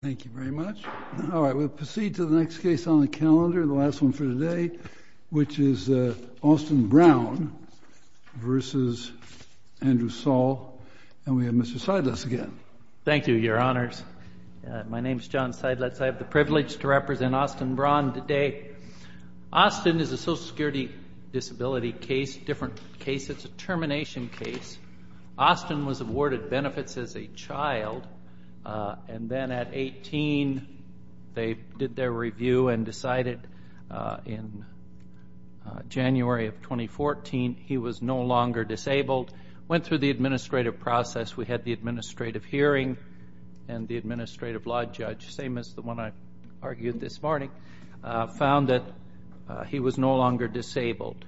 Thank you very much. All right, we'll proceed to the next case on the calendar, the last one for today, which is Austin Braun v. Andrew Saul. And we have Mr. Seidlitz again. Thank you, Your Honors. My name is John Seidlitz. I have the privilege to represent Austin Braun today. Austin is a social security disability case, different case. It's a termination case. Austin was awarded benefits as a child, and then at 18, they did their review and decided in January of 2014, he was no longer disabled. Went through the administrative process, we had the administrative hearing, and the administrative law judge, same as the one I argued this morning, found that he was no longer disabled.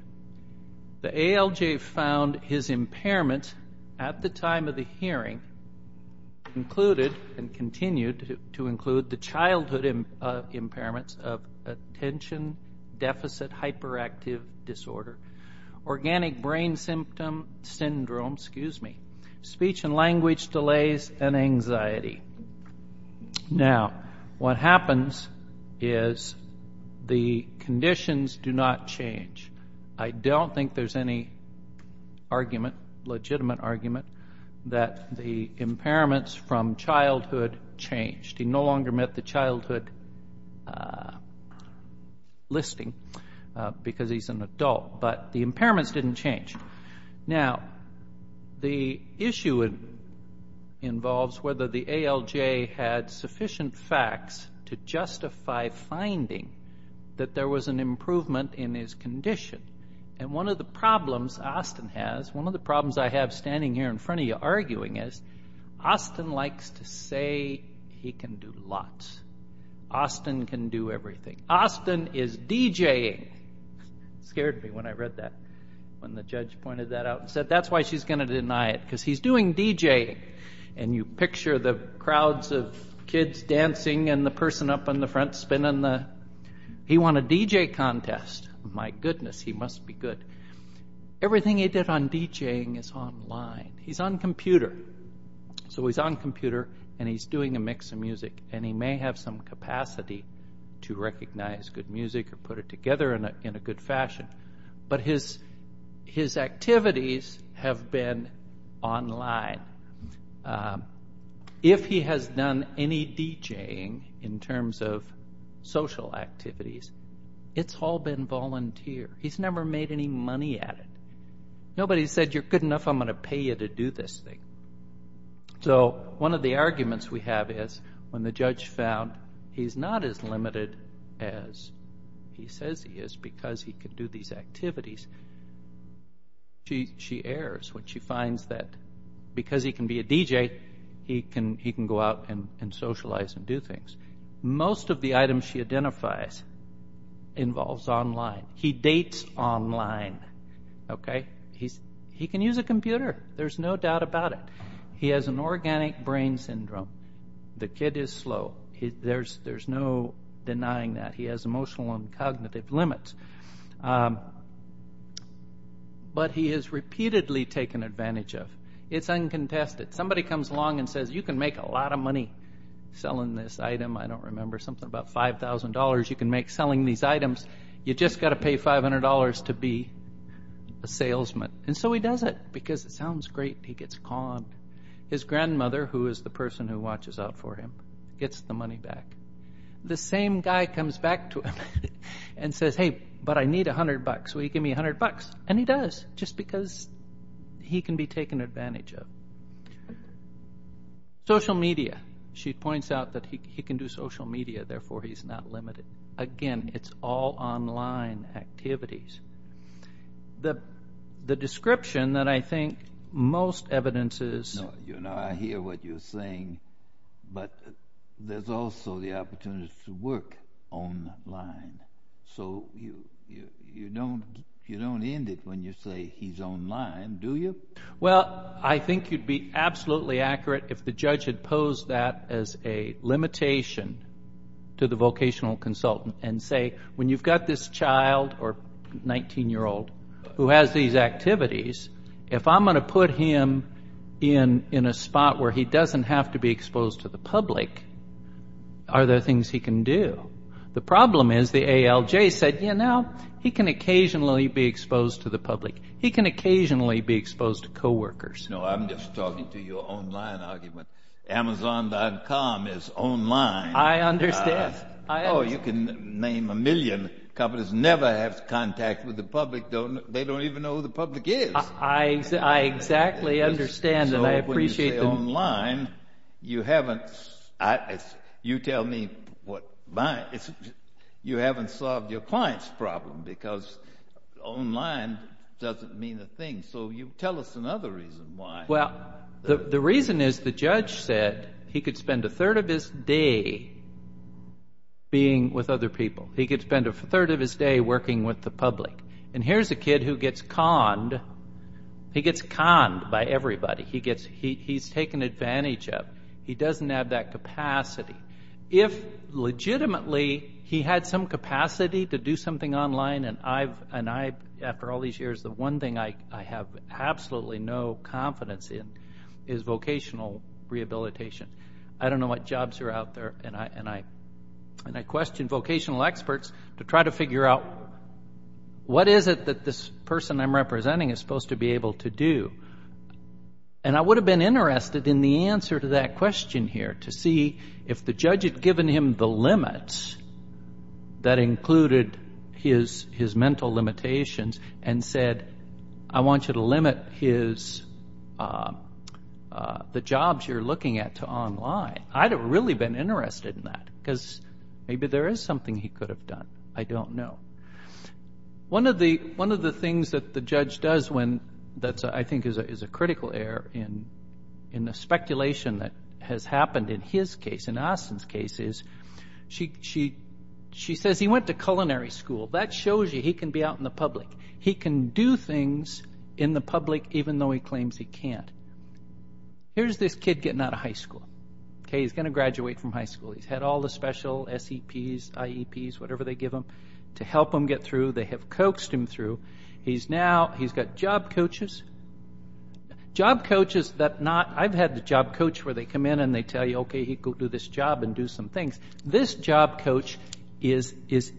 The ALJ found his impairment at the time of the hearing included and continued to include the childhood impairments of attention deficit hyperactive disorder, organic brain syndrome, speech and language delays, and anxiety. Now, what happens is the conditions do not change. I don't think there's any argument, legitimate argument, that the impairments from childhood changed. He no longer met the childhood listing because he's an adult, but the impairments didn't change. Now, the issue involves whether the ALJ had sufficient facts to justify finding that there was an improvement in his condition. And one of the problems Austin has, one of the problems I have standing here in front of you arguing is, Austin likes to say he can do lots. Austin can do everything. Austin is DJing. Scared me when I read that, when the judge pointed that out and said, that's why she's going to deny it, because he's doing DJing. And you picture the crowds of kids dancing and the person up in the front spinning the, he won a DJ contest. My goodness, he must be good. Everything he did on DJing is online. He's on computer. So he's on computer and he's doing a mix of music, and he may have some capacity to recognize good music or put it together in a good fashion, but his activities have been online. If he has done any DJing in terms of social activities, it's all been volunteer. He's never made any money at it. Nobody said, you're good enough, I'm going to pay you to do this thing. So one of the arguments we have is, when the judge found he's not as limited as he says he is because he can do these activities, she errs when she finds that because he can be a DJ, he can go out and socialize and do things. Most of the items she identifies involves online. He dates online. He can use a computer. There's no doubt about it. He has an organic brain syndrome. The kid is slow. There's no denying that. He has emotional and cognitive limits. But he has repeatedly taken advantage of. It's uncontested. Somebody comes along and says, you can make a lot of money selling this item. I don't remember, something about $5,000 you can make selling these items. You just got to pay $500 to be a salesman. And so he does it because it sounds great. He gets called. His grandmother, who is the person who watches out for him, gets the money back. The same guy comes back to him and says, hey, but I need $100. Will you give me $100? And he does, just because he can be taken advantage of. Social media. She points out that he can do social media, therefore he's not limited. Again, it's all online activities. The description that I think most evidence is. I hear what you're saying, but there's also the opportunity to work online. So you don't end it when you say he's online, do you? Well, I think you'd be absolutely accurate if the judge had posed that as a limitation to the vocational consultant and say, when you've got this child or 19-year-old who has these activities, if I'm going to put him in a spot where he doesn't have to be The problem is the ALJ said, you know, he can occasionally be exposed to the public. He can occasionally be exposed to coworkers. No, I'm just talking to your online argument. Amazon.com is online. I understand. Oh, you can name a million companies, never have contact with the public. They don't even know who the public is. I exactly understand. So when you say online, you haven't solved your client's problem because online doesn't mean a thing. So you tell us another reason why. Well, the reason is the judge said he could spend a third of his day being with other people. He could spend a third of his day working with the public. And here's a kid who gets conned. He gets conned by everybody. He's taken advantage of. He doesn't have that capacity. If legitimately he had some capacity to do something online, and I, after all these years, the one thing I have absolutely no confidence in is vocational rehabilitation. I don't know what jobs are out there, and I question vocational experts to try to figure out what is it that this person I'm representing is supposed to be able to do. And I would have been interested in the answer to that question here, to see if the judge had given him the limits that included his mental limitations and said, I want you to limit the jobs you're looking at to online. I'd have really been interested in that because maybe there is something he could have done. I don't know. One of the things that the judge does when, that I think is a critical error in the speculation that has happened in his case, in Austin's case, is she says he went to culinary school. That shows you he can be out in the public. He can do things in the public even though he claims he can't. Here's this kid getting out of high school. He's going to graduate from high school. He's got all the special SEPs, IEPs, whatever they give him to help him get through. They have coaxed him through. He's now, he's got job coaches. Job coaches that not, I've had the job coach where they come in and they tell you, okay, he could do this job and do some things. This job coach is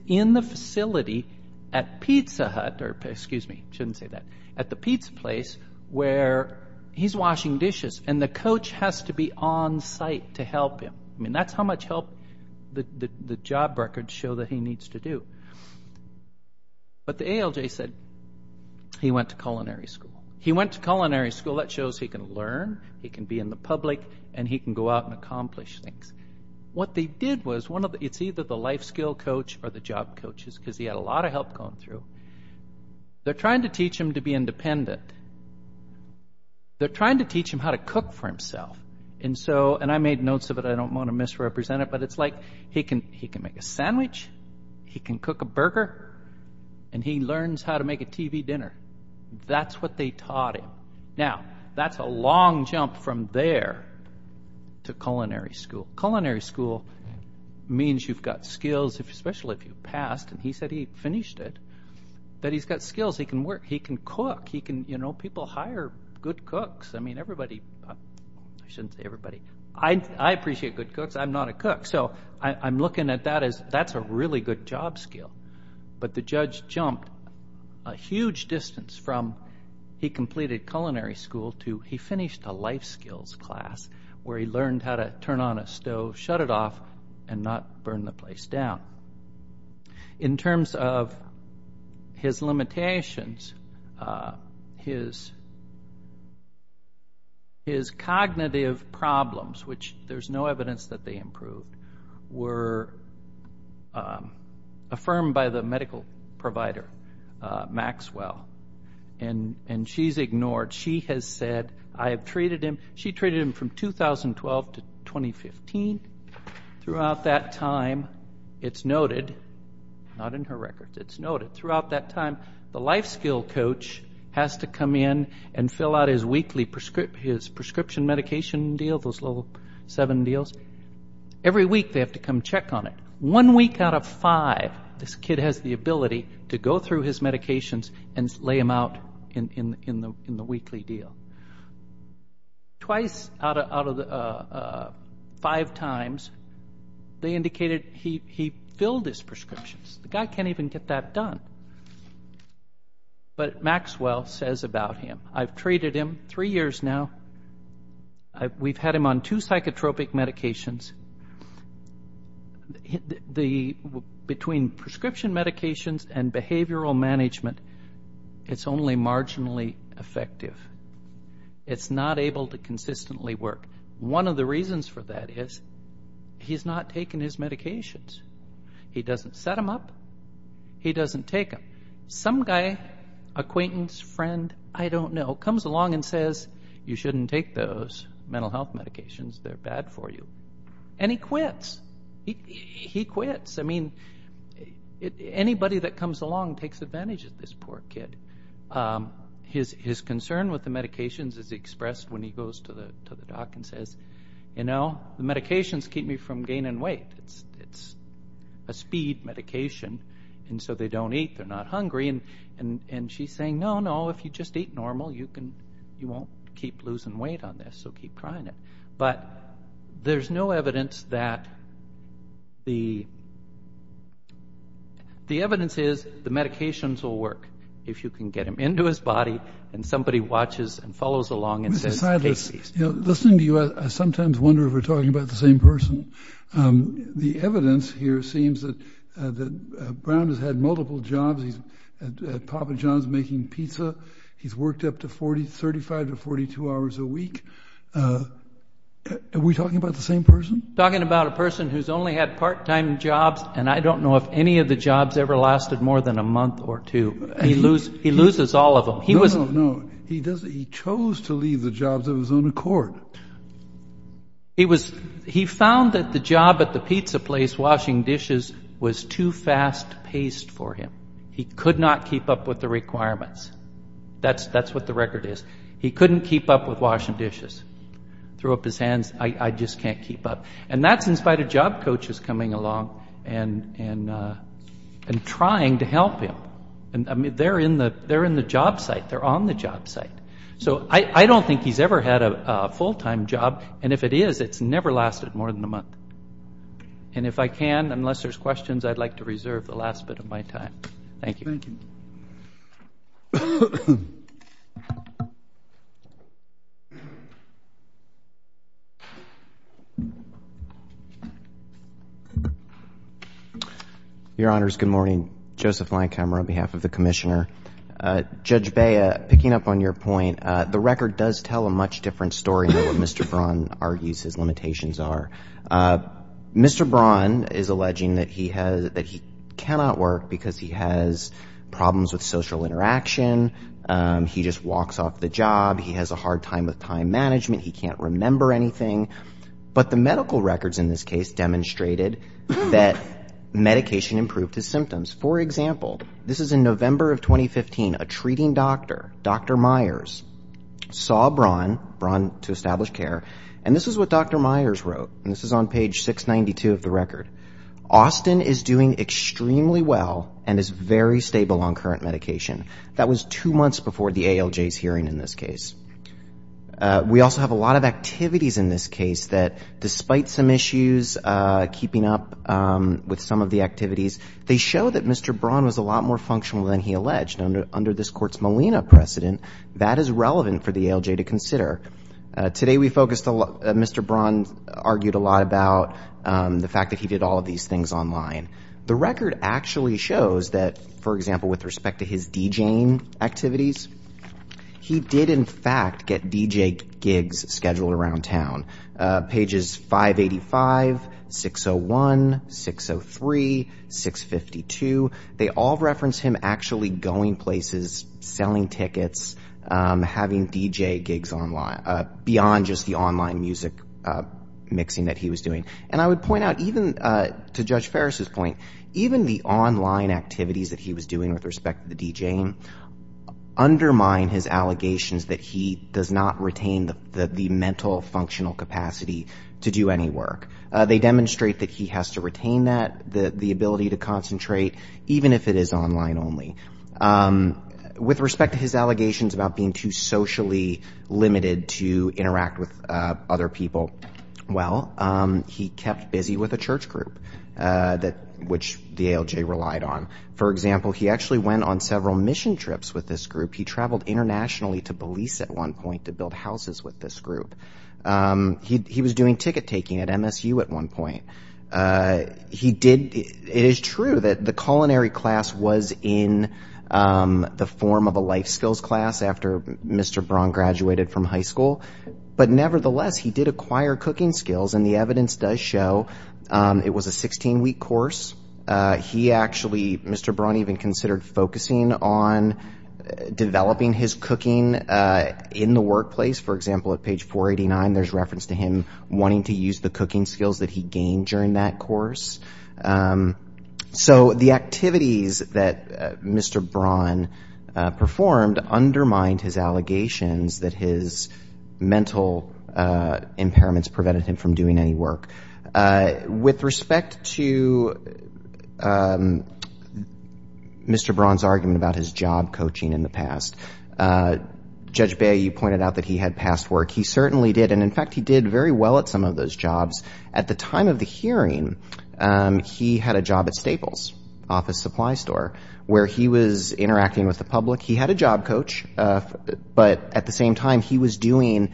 in the facility at Pizza Hut, or excuse me, shouldn't say that, at the pizza place where he's washing dishes, and the coach has to be on site to help him. I mean, that's how much help the job records show that he needs to do. But the ALJ said he went to culinary school. He went to culinary school. That shows he can learn, he can be in the public, and he can go out and accomplish things. What they did was, it's either the life skill coach or the job coaches, because he had a lot of help going through. They're trying to teach him to be independent. They're trying to teach him how to cook for himself. And so, and I made notes of it, I don't want to misrepresent it, but it's like, he can make a sandwich, he can cook a burger, and he learns how to make a TV dinner. That's what they taught him. Now, that's a long jump from there to culinary school. Culinary school means you've got skills, especially if you've passed, and he said he finished it, that he's got skills. He can work. He can cook. He can, you know, people hire good cooks. I mean, everybody, I shouldn't say everybody. I appreciate good cooks. I'm not a cook. So, I'm looking at that as, that's a really good job skill. But the judge jumped a huge distance from he completed culinary school to he finished a life skills class, where he learned how to turn on a stove, shut it off, and not burn the place down. In terms of his limitations, his cognitive problems, which there's no evidence that they improved, were affirmed by the medical provider, Maxwell. And she's ignored. She has said, I have treated him. She treated him from 2012 to 2015. Throughout that time, it's noted, not in her record, it's noted, throughout that time, the life skill coach has to come in and fill out his weekly prescription medication deal, those little seven deals. Every week they have to come check on it. One week out of five, this kid has the ability to go through his medications and lay them out in the weekly deal. Twice out of five times, they indicated he filled his prescriptions. The guy can't even get that done. But Maxwell says about him, I've treated him three years now. We've had him on two psychotropic medications. Between prescription medications and behavioral management, it's only marginally effective. It's not able to consistently work. One of the reasons for that is, he's not taking his medications. He doesn't set them up. He doesn't take them. Some guy, acquaintance, friend, I don't know, comes along and says, you shouldn't take those mental health medications. They're bad for you. And he quits. He quits. I mean, anybody that comes along takes advantage of this poor kid. His concern with the medications is expressed when he goes to the doc and says, you know, the medications keep me from gaining weight. It's a speed medication. And so they don't eat, they're not hungry. And she's saying, no, no, if you just eat normal, you won't keep losing weight on this. So keep trying it. But there's no evidence that the evidence is the medications will work if you can get him into his body and somebody watches and follows along and says, take these. Listening to you, I sometimes wonder if we're talking about the same person. The evidence here seems that Brown has had multiple jobs. He's at Papa John's making pizza. He's worked up to 35 to 42 hours a week. Are we talking about the same person? Talking about a person who's only had part-time jobs. And I don't know if any of the jobs ever lasted more than a month or two. He loses all of them. No, no, no. He chose to leave the jobs of his own accord. He found that the job at the pizza place washing dishes was too fast paced for him. He could not keep up with the requirements. That's what the record is. He couldn't keep up with washing dishes. Threw up his hands. I just can't keep up. And that's in spite of job coaches coming along and trying to help him. They're in the job site. They're on the job site. So I don't think he's ever had a full-time job. And if it is, it's never lasted more than a month. And if I can, unless there's questions, I'd like to reserve the last bit of my time. Thank you. Thank you. Your Honors, good morning. Joseph Lancomer on behalf of the Commissioner. Judge Bea, picking up on your point, the record does tell a much different story than what Mr. Braun argues his limitations are. Mr. Braun is alleging that he cannot work because he has problems with social interaction. He just walks off the job. He has a hard time with time management. He can't remember anything. But the medical records in this case demonstrated that medication improved his symptoms. For example, this is in November of 2015, a treating doctor, Dr. Myers, saw Braun, Braun to establish care. And this is what Dr. Myers wrote. And this is on page 692 of the record. Austin is doing extremely well and is very stable on current medication. That was two months before the ALJ's hearing in this case. We also have a lot of activities in this case that, despite some issues, keeping up with some of the activities, they show that Mr. Braun was a lot more functional than he alleged. And under this court's Molina precedent, that is relevant for the ALJ to consider. Today, Mr. Braun argued a lot about the fact that he did all of these things online. The record actually shows that, for example, with respect to his DJing activities, he did, in fact, get DJ gigs scheduled around town. Pages 585, 601, 603, 652, they all reference him actually going places, selling tickets, having DJ gigs online, beyond just the online music mixing that he was doing. And I would point out, even to Judge Ferris's point, even the online activities that he was doing with respect to the DJing undermine his allegations that he does not retain the mental, functional capacity to do any work. They demonstrate that he has to retain that, the ability to concentrate, even if it is online only. With respect to his allegations about being too socially limited to interact with other people, well, he kept busy with a church group, which the ALJ relied on. For example, he actually went on several mission trips with this group. He traveled internationally to Belize at one point to build houses with this group. He was doing ticket-taking at MSU at one point. It is true that the culinary class was in the form of a life skills class after Mr. Braun graduated from high school, but nevertheless, he did acquire cooking skills, and the evidence does show it was a 16-week course. He actually, Mr. Braun even considered focusing on developing his cooking in the workplace, for example, at page 489, there's reference to him wanting to use the cooking skills that he gained during that course. So the activities that Mr. Braun performed undermined his allegations that his mental impairments prevented him from doing any work. With respect to Mr. Braun's argument about his job coaching in the past, Judge Bey, you pointed out that he had past work. He certainly did, and in fact he did very well at some of those jobs. At the time of the hearing, he had a job at Staples, office supply store, where he was interacting with the public. He had a job coach, but at the same time he was doing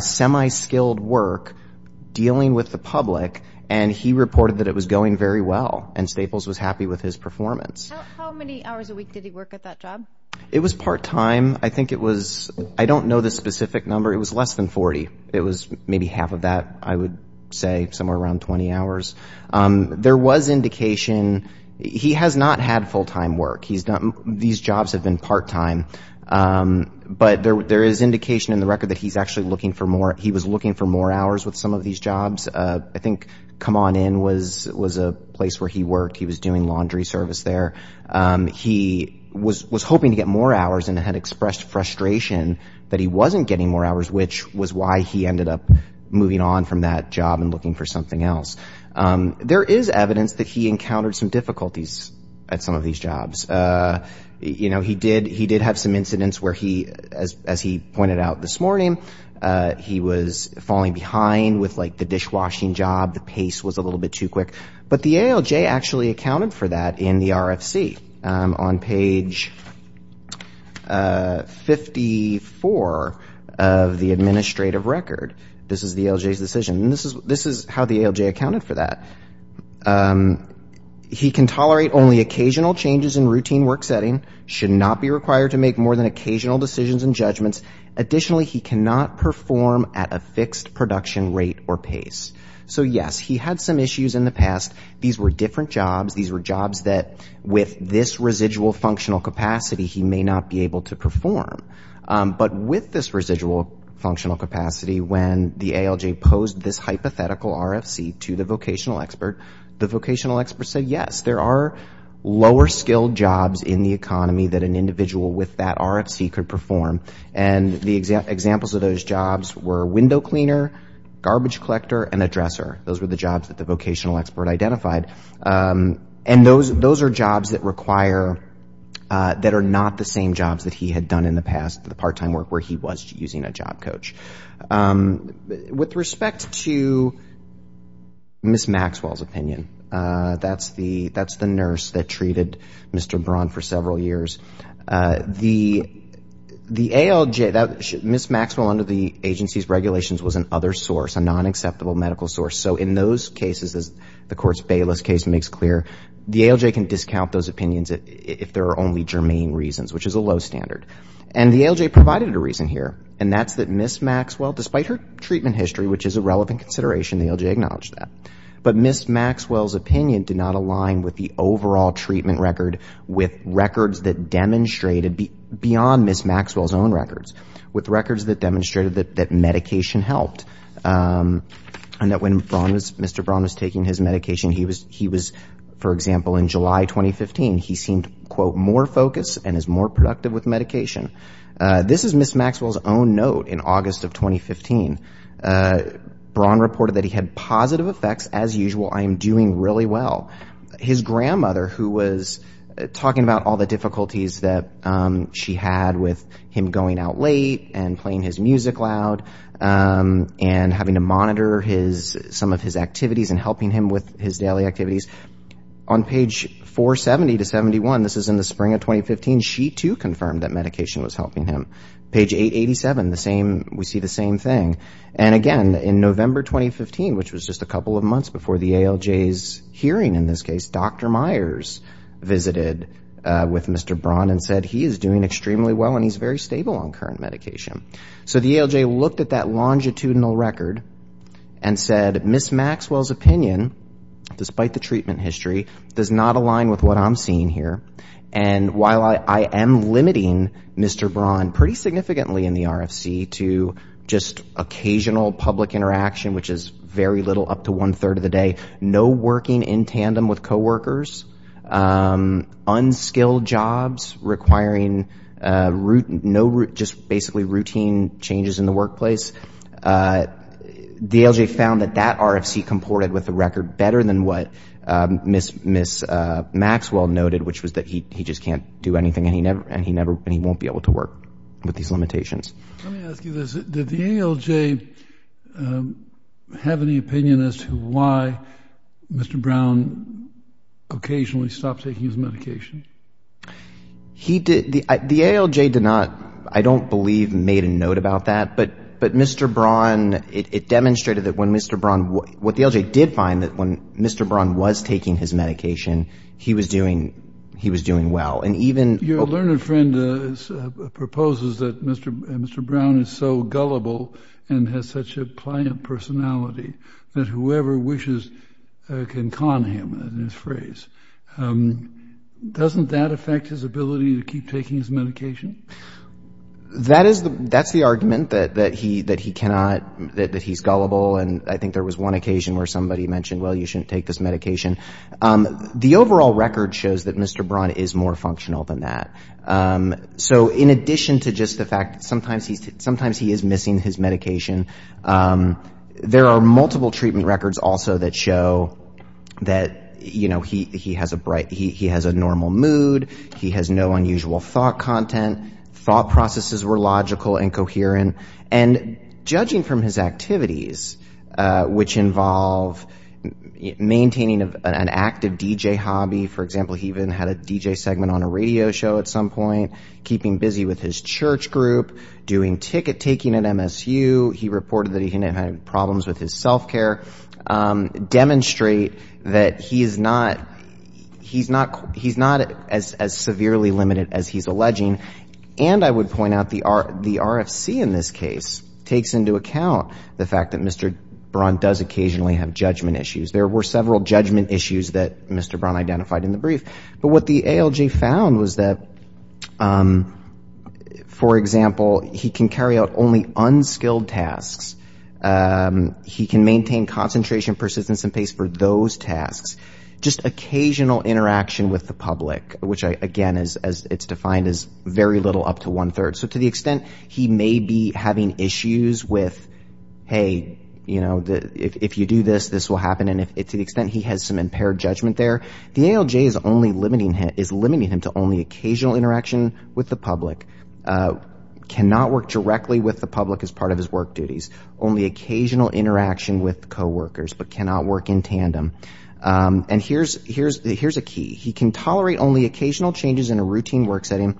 semi-skilled work dealing with the public, and he reported that it was going very well, and Staples was happy with his performance. How many hours a week did he work at that job? It was part-time. I think it was, I don't know the specific number, it was less than 40. It was maybe half of that, I would say, somewhere around 20 hours. There was indication, he has not had full-time work. These jobs have been part-time. But there is indication in the record that he was looking for more hours with some of these jobs. I think Come On In was a place where he worked, he was doing laundry service there. He was hoping to get more hours and had expressed frustration that he wasn't getting more hours, which was why he ended up moving on from that job and looking for something else. There is evidence that he encountered some difficulties at some of these jobs. You know, he did have some incidents where he, as he pointed out this morning, he was falling behind with, like, the dishwashing job, the pace was a little bit too quick. But the ALJ actually accounted for that in the RFC on page 54 of the administrative record. This is the ALJ's decision, and this is how the ALJ accounted for that. He can tolerate only occasional changes in routine work setting, should not be required to make more than occasional decisions and judgments. Additionally, he cannot perform at a fixed production rate or pace. So, yes, he had some issues in the past. These were different jobs. These were jobs that, with this residual functional capacity, he may not be able to perform. But with this residual functional capacity, when the ALJ posed this hypothetical RFC to the vocational expert, the vocational expert said, yes, there are lower skilled jobs in the economy that an individual with that RFC could perform. And the examples of those jobs were window cleaner, garbage collector, and a dresser. Those were the jobs that the vocational expert identified. And those are jobs that require, that are not the same jobs that he had done in the past, the part-time work where he was using a job coach. With respect to Ms. Maxwell's opinion, that's the nurse that treated Mr. Braun for several years. Ms. Maxwell, under the agency's regulations, was an other source, a non-acceptable medical source. So in those cases, as the Court's Bayless case makes clear, the ALJ can discount those opinions if there are only germane reasons, which is a low standard. And the ALJ provided a reason here, and that's that Ms. Maxwell, despite her treatment history, which is a relevant consideration, the ALJ acknowledged that. But Ms. Maxwell's opinion did not align with the overall treatment record with records that demonstrated, beyond Ms. Maxwell's own records, with records that demonstrated that medication helped. And that when Mr. Braun was taking his medication, he was, for example, in July 2015, he seemed, quote, more focused and is more productive with medication. This is Ms. Maxwell's own note in August of 2015. Braun reported that he had positive effects, as usual, I am doing really well. His grandmother, who was talking about all the difficulties that she had with him going out late and playing his music loud and having to monitor some of his activities and helping him with his daily activities, on page 470 to 71, this is in the spring of 2015, she too confirmed that medication was helping him. Page 887, we see the same thing. And again, in November 2015, which was just a couple of months before the ALJ's hearing in this case, Dr. Myers visited with Mr. Braun and said he is doing extremely well and he's very stable on current medication. So the ALJ looked at that longitudinal record and said, Ms. Maxwell's opinion, despite the treatment history, does not align with what I'm seeing here. And while I am limiting Mr. Braun pretty significantly in the RFC to just occasional public interaction, which is very little, up to one-third of the day, no working in tandem with coworkers, unskilled jobs requiring just basically routine changes in the workplace, the ALJ found that that RFC comported with the record better than what Ms. Maxwell noted, which was that he just can't do anything and he won't be able to work with these limitations. Let me ask you this. Did the ALJ have any opinion as to why Mr. Braun occasionally stopped taking his medication? The ALJ did not, I don't believe, made a note about that, but Mr. Braun, it demonstrated that when Mr. Braun, what the ALJ did find, that when Mr. Braun was taking his medication, he was doing well. Your learned friend proposes that Mr. Braun is so gullible and has such a pliant personality that whoever wishes can con him, in this phrase. Doesn't that affect his ability to keep taking his medication? That's the argument, that he cannot, that he's gullible, and I think there was one occasion where somebody mentioned, well, you shouldn't take this medication. The overall record shows that Mr. Braun is more functional than that. So in addition to just the fact that sometimes he is missing his medication, there are multiple treatment records also that show that he has a normal mood, he has no unusual thought content, thought processes were logical and coherent, and judging from his activities, which involve maintaining an active DJ hobby, for example, he even had a DJ segment on a radio show at some point, keeping busy with his church group, doing ticket taking at MSU, he reported that he had problems with his self-care, demonstrate that he is not, he's not as severely limited as he's alleging, and I would point out the RFC in this case takes into account the fact that Mr. Braun does occasionally have judgment issues. There were several judgment issues that Mr. Braun identified in the brief, but what the ALJ found was that, for example, he can carry out only unskilled tasks, he can maintain concentration, persistence and pace for those tasks, just occasional interaction with the public, which, again, as it's defined, is very little up to one-third. So to the extent he may be having issues with, hey, you know, if you do this, this will happen, to the extent he has some impaired judgment there, the ALJ is limiting him to only occasional interaction with the public, cannot work directly with the public as part of his work duties, only occasional interaction with coworkers, but cannot work in tandem. And here's a key. He can tolerate only occasional changes in a routine work setting,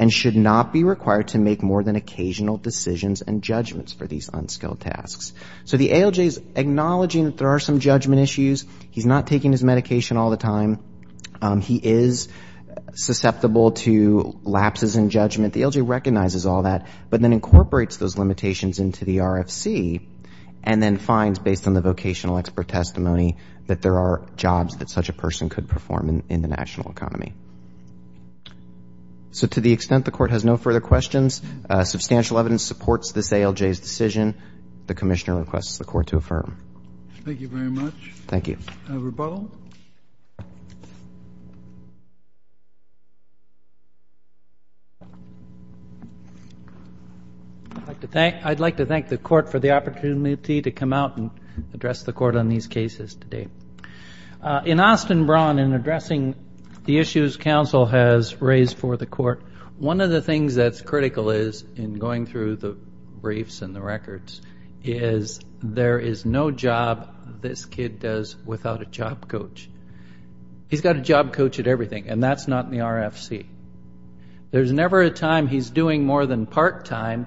and should not be required to make more than occasional decisions and judgments for these unskilled tasks. So the ALJ is acknowledging that there are some judgment issues, he's not taking his medication all the time, he is susceptible to lapses in judgment, the ALJ recognizes all that, but then incorporates those limitations into the RFC and then finds, based on the vocational expert testimony, that there are jobs that such a person could perform in the national economy. So to the extent the Court has no further questions, substantial evidence supports this ALJ's decision, the Commissioner requests the Court to affirm. I'd like to thank the Court for the opportunity to come out and address the Court on these cases today. In Austin Braun, in addressing the issues Council has raised for the Court, one of the things that's critical is, in going through the briefs and the records, is there is no job this kid does without a job coach. He's got a job coach at everything, and that's not in the RFC. There's never a time he's doing more than part-time,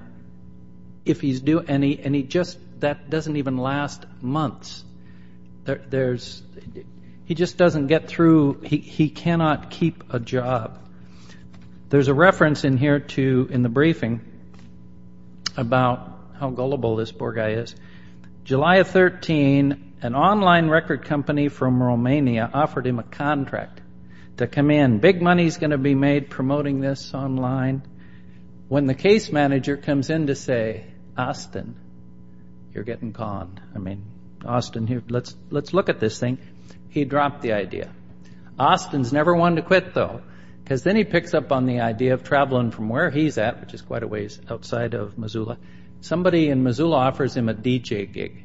and that doesn't even last months. He just doesn't get through, he cannot keep a job. There's a reference in the briefing about how gullible this poor guy is. July of 13, an online record company from Romania offered him a contract to come in. Big money's going to be made promoting this online. When the case manager comes in to say, Austin, you're getting conned. I mean, Austin, let's look at this thing. He dropped the idea. Austin's never wanted to quit, though, because then he picks up on the idea of traveling from where he's at, which is quite a ways outside of Missoula. Somebody in Missoula offers him a DJ gig.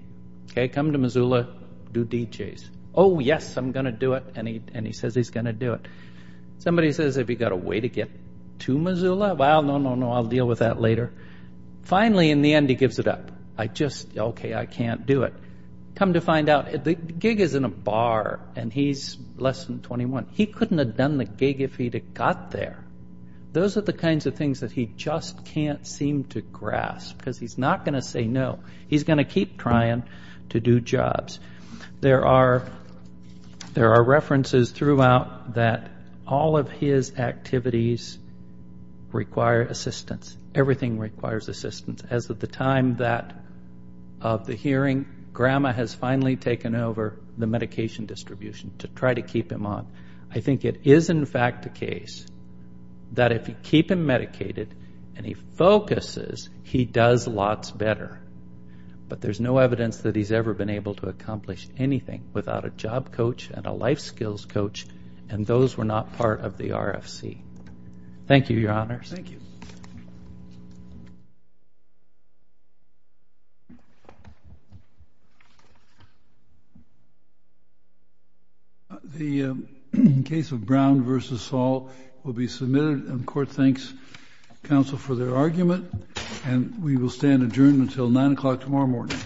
Come to Missoula, do DJs. Oh, yes, I'm going to do it, and he says he's going to do it. Somebody says, have you got a way to get to Missoula? Well, no, no, no, I'll deal with that later. Finally, in the end, he gives it up. I just, okay, I can't do it. Come to find out, the gig is in a bar, and he's less than 21. He couldn't have done the gig if he'd have got there. Those are the kinds of things that he just can't seem to grasp, because he's not going to say no. He's going to keep trying to do jobs. There are references throughout that all of his activities require assistance. Everything requires assistance. As of the time of the hearing, Grandma has finally taken over the medication distribution to try to keep him on. I think it is, in fact, the case that if you keep him medicated and he focuses, he does lots better. But there's no evidence that he's ever been able to accomplish anything without a job coach and a life skills coach, and those were not part of the RFC. Thank you, Your Honors. The case of Brown v. Saul will be submitted, and the Court thanks counsel for their argument. We will stand adjourned until 9 o'clock tomorrow morning.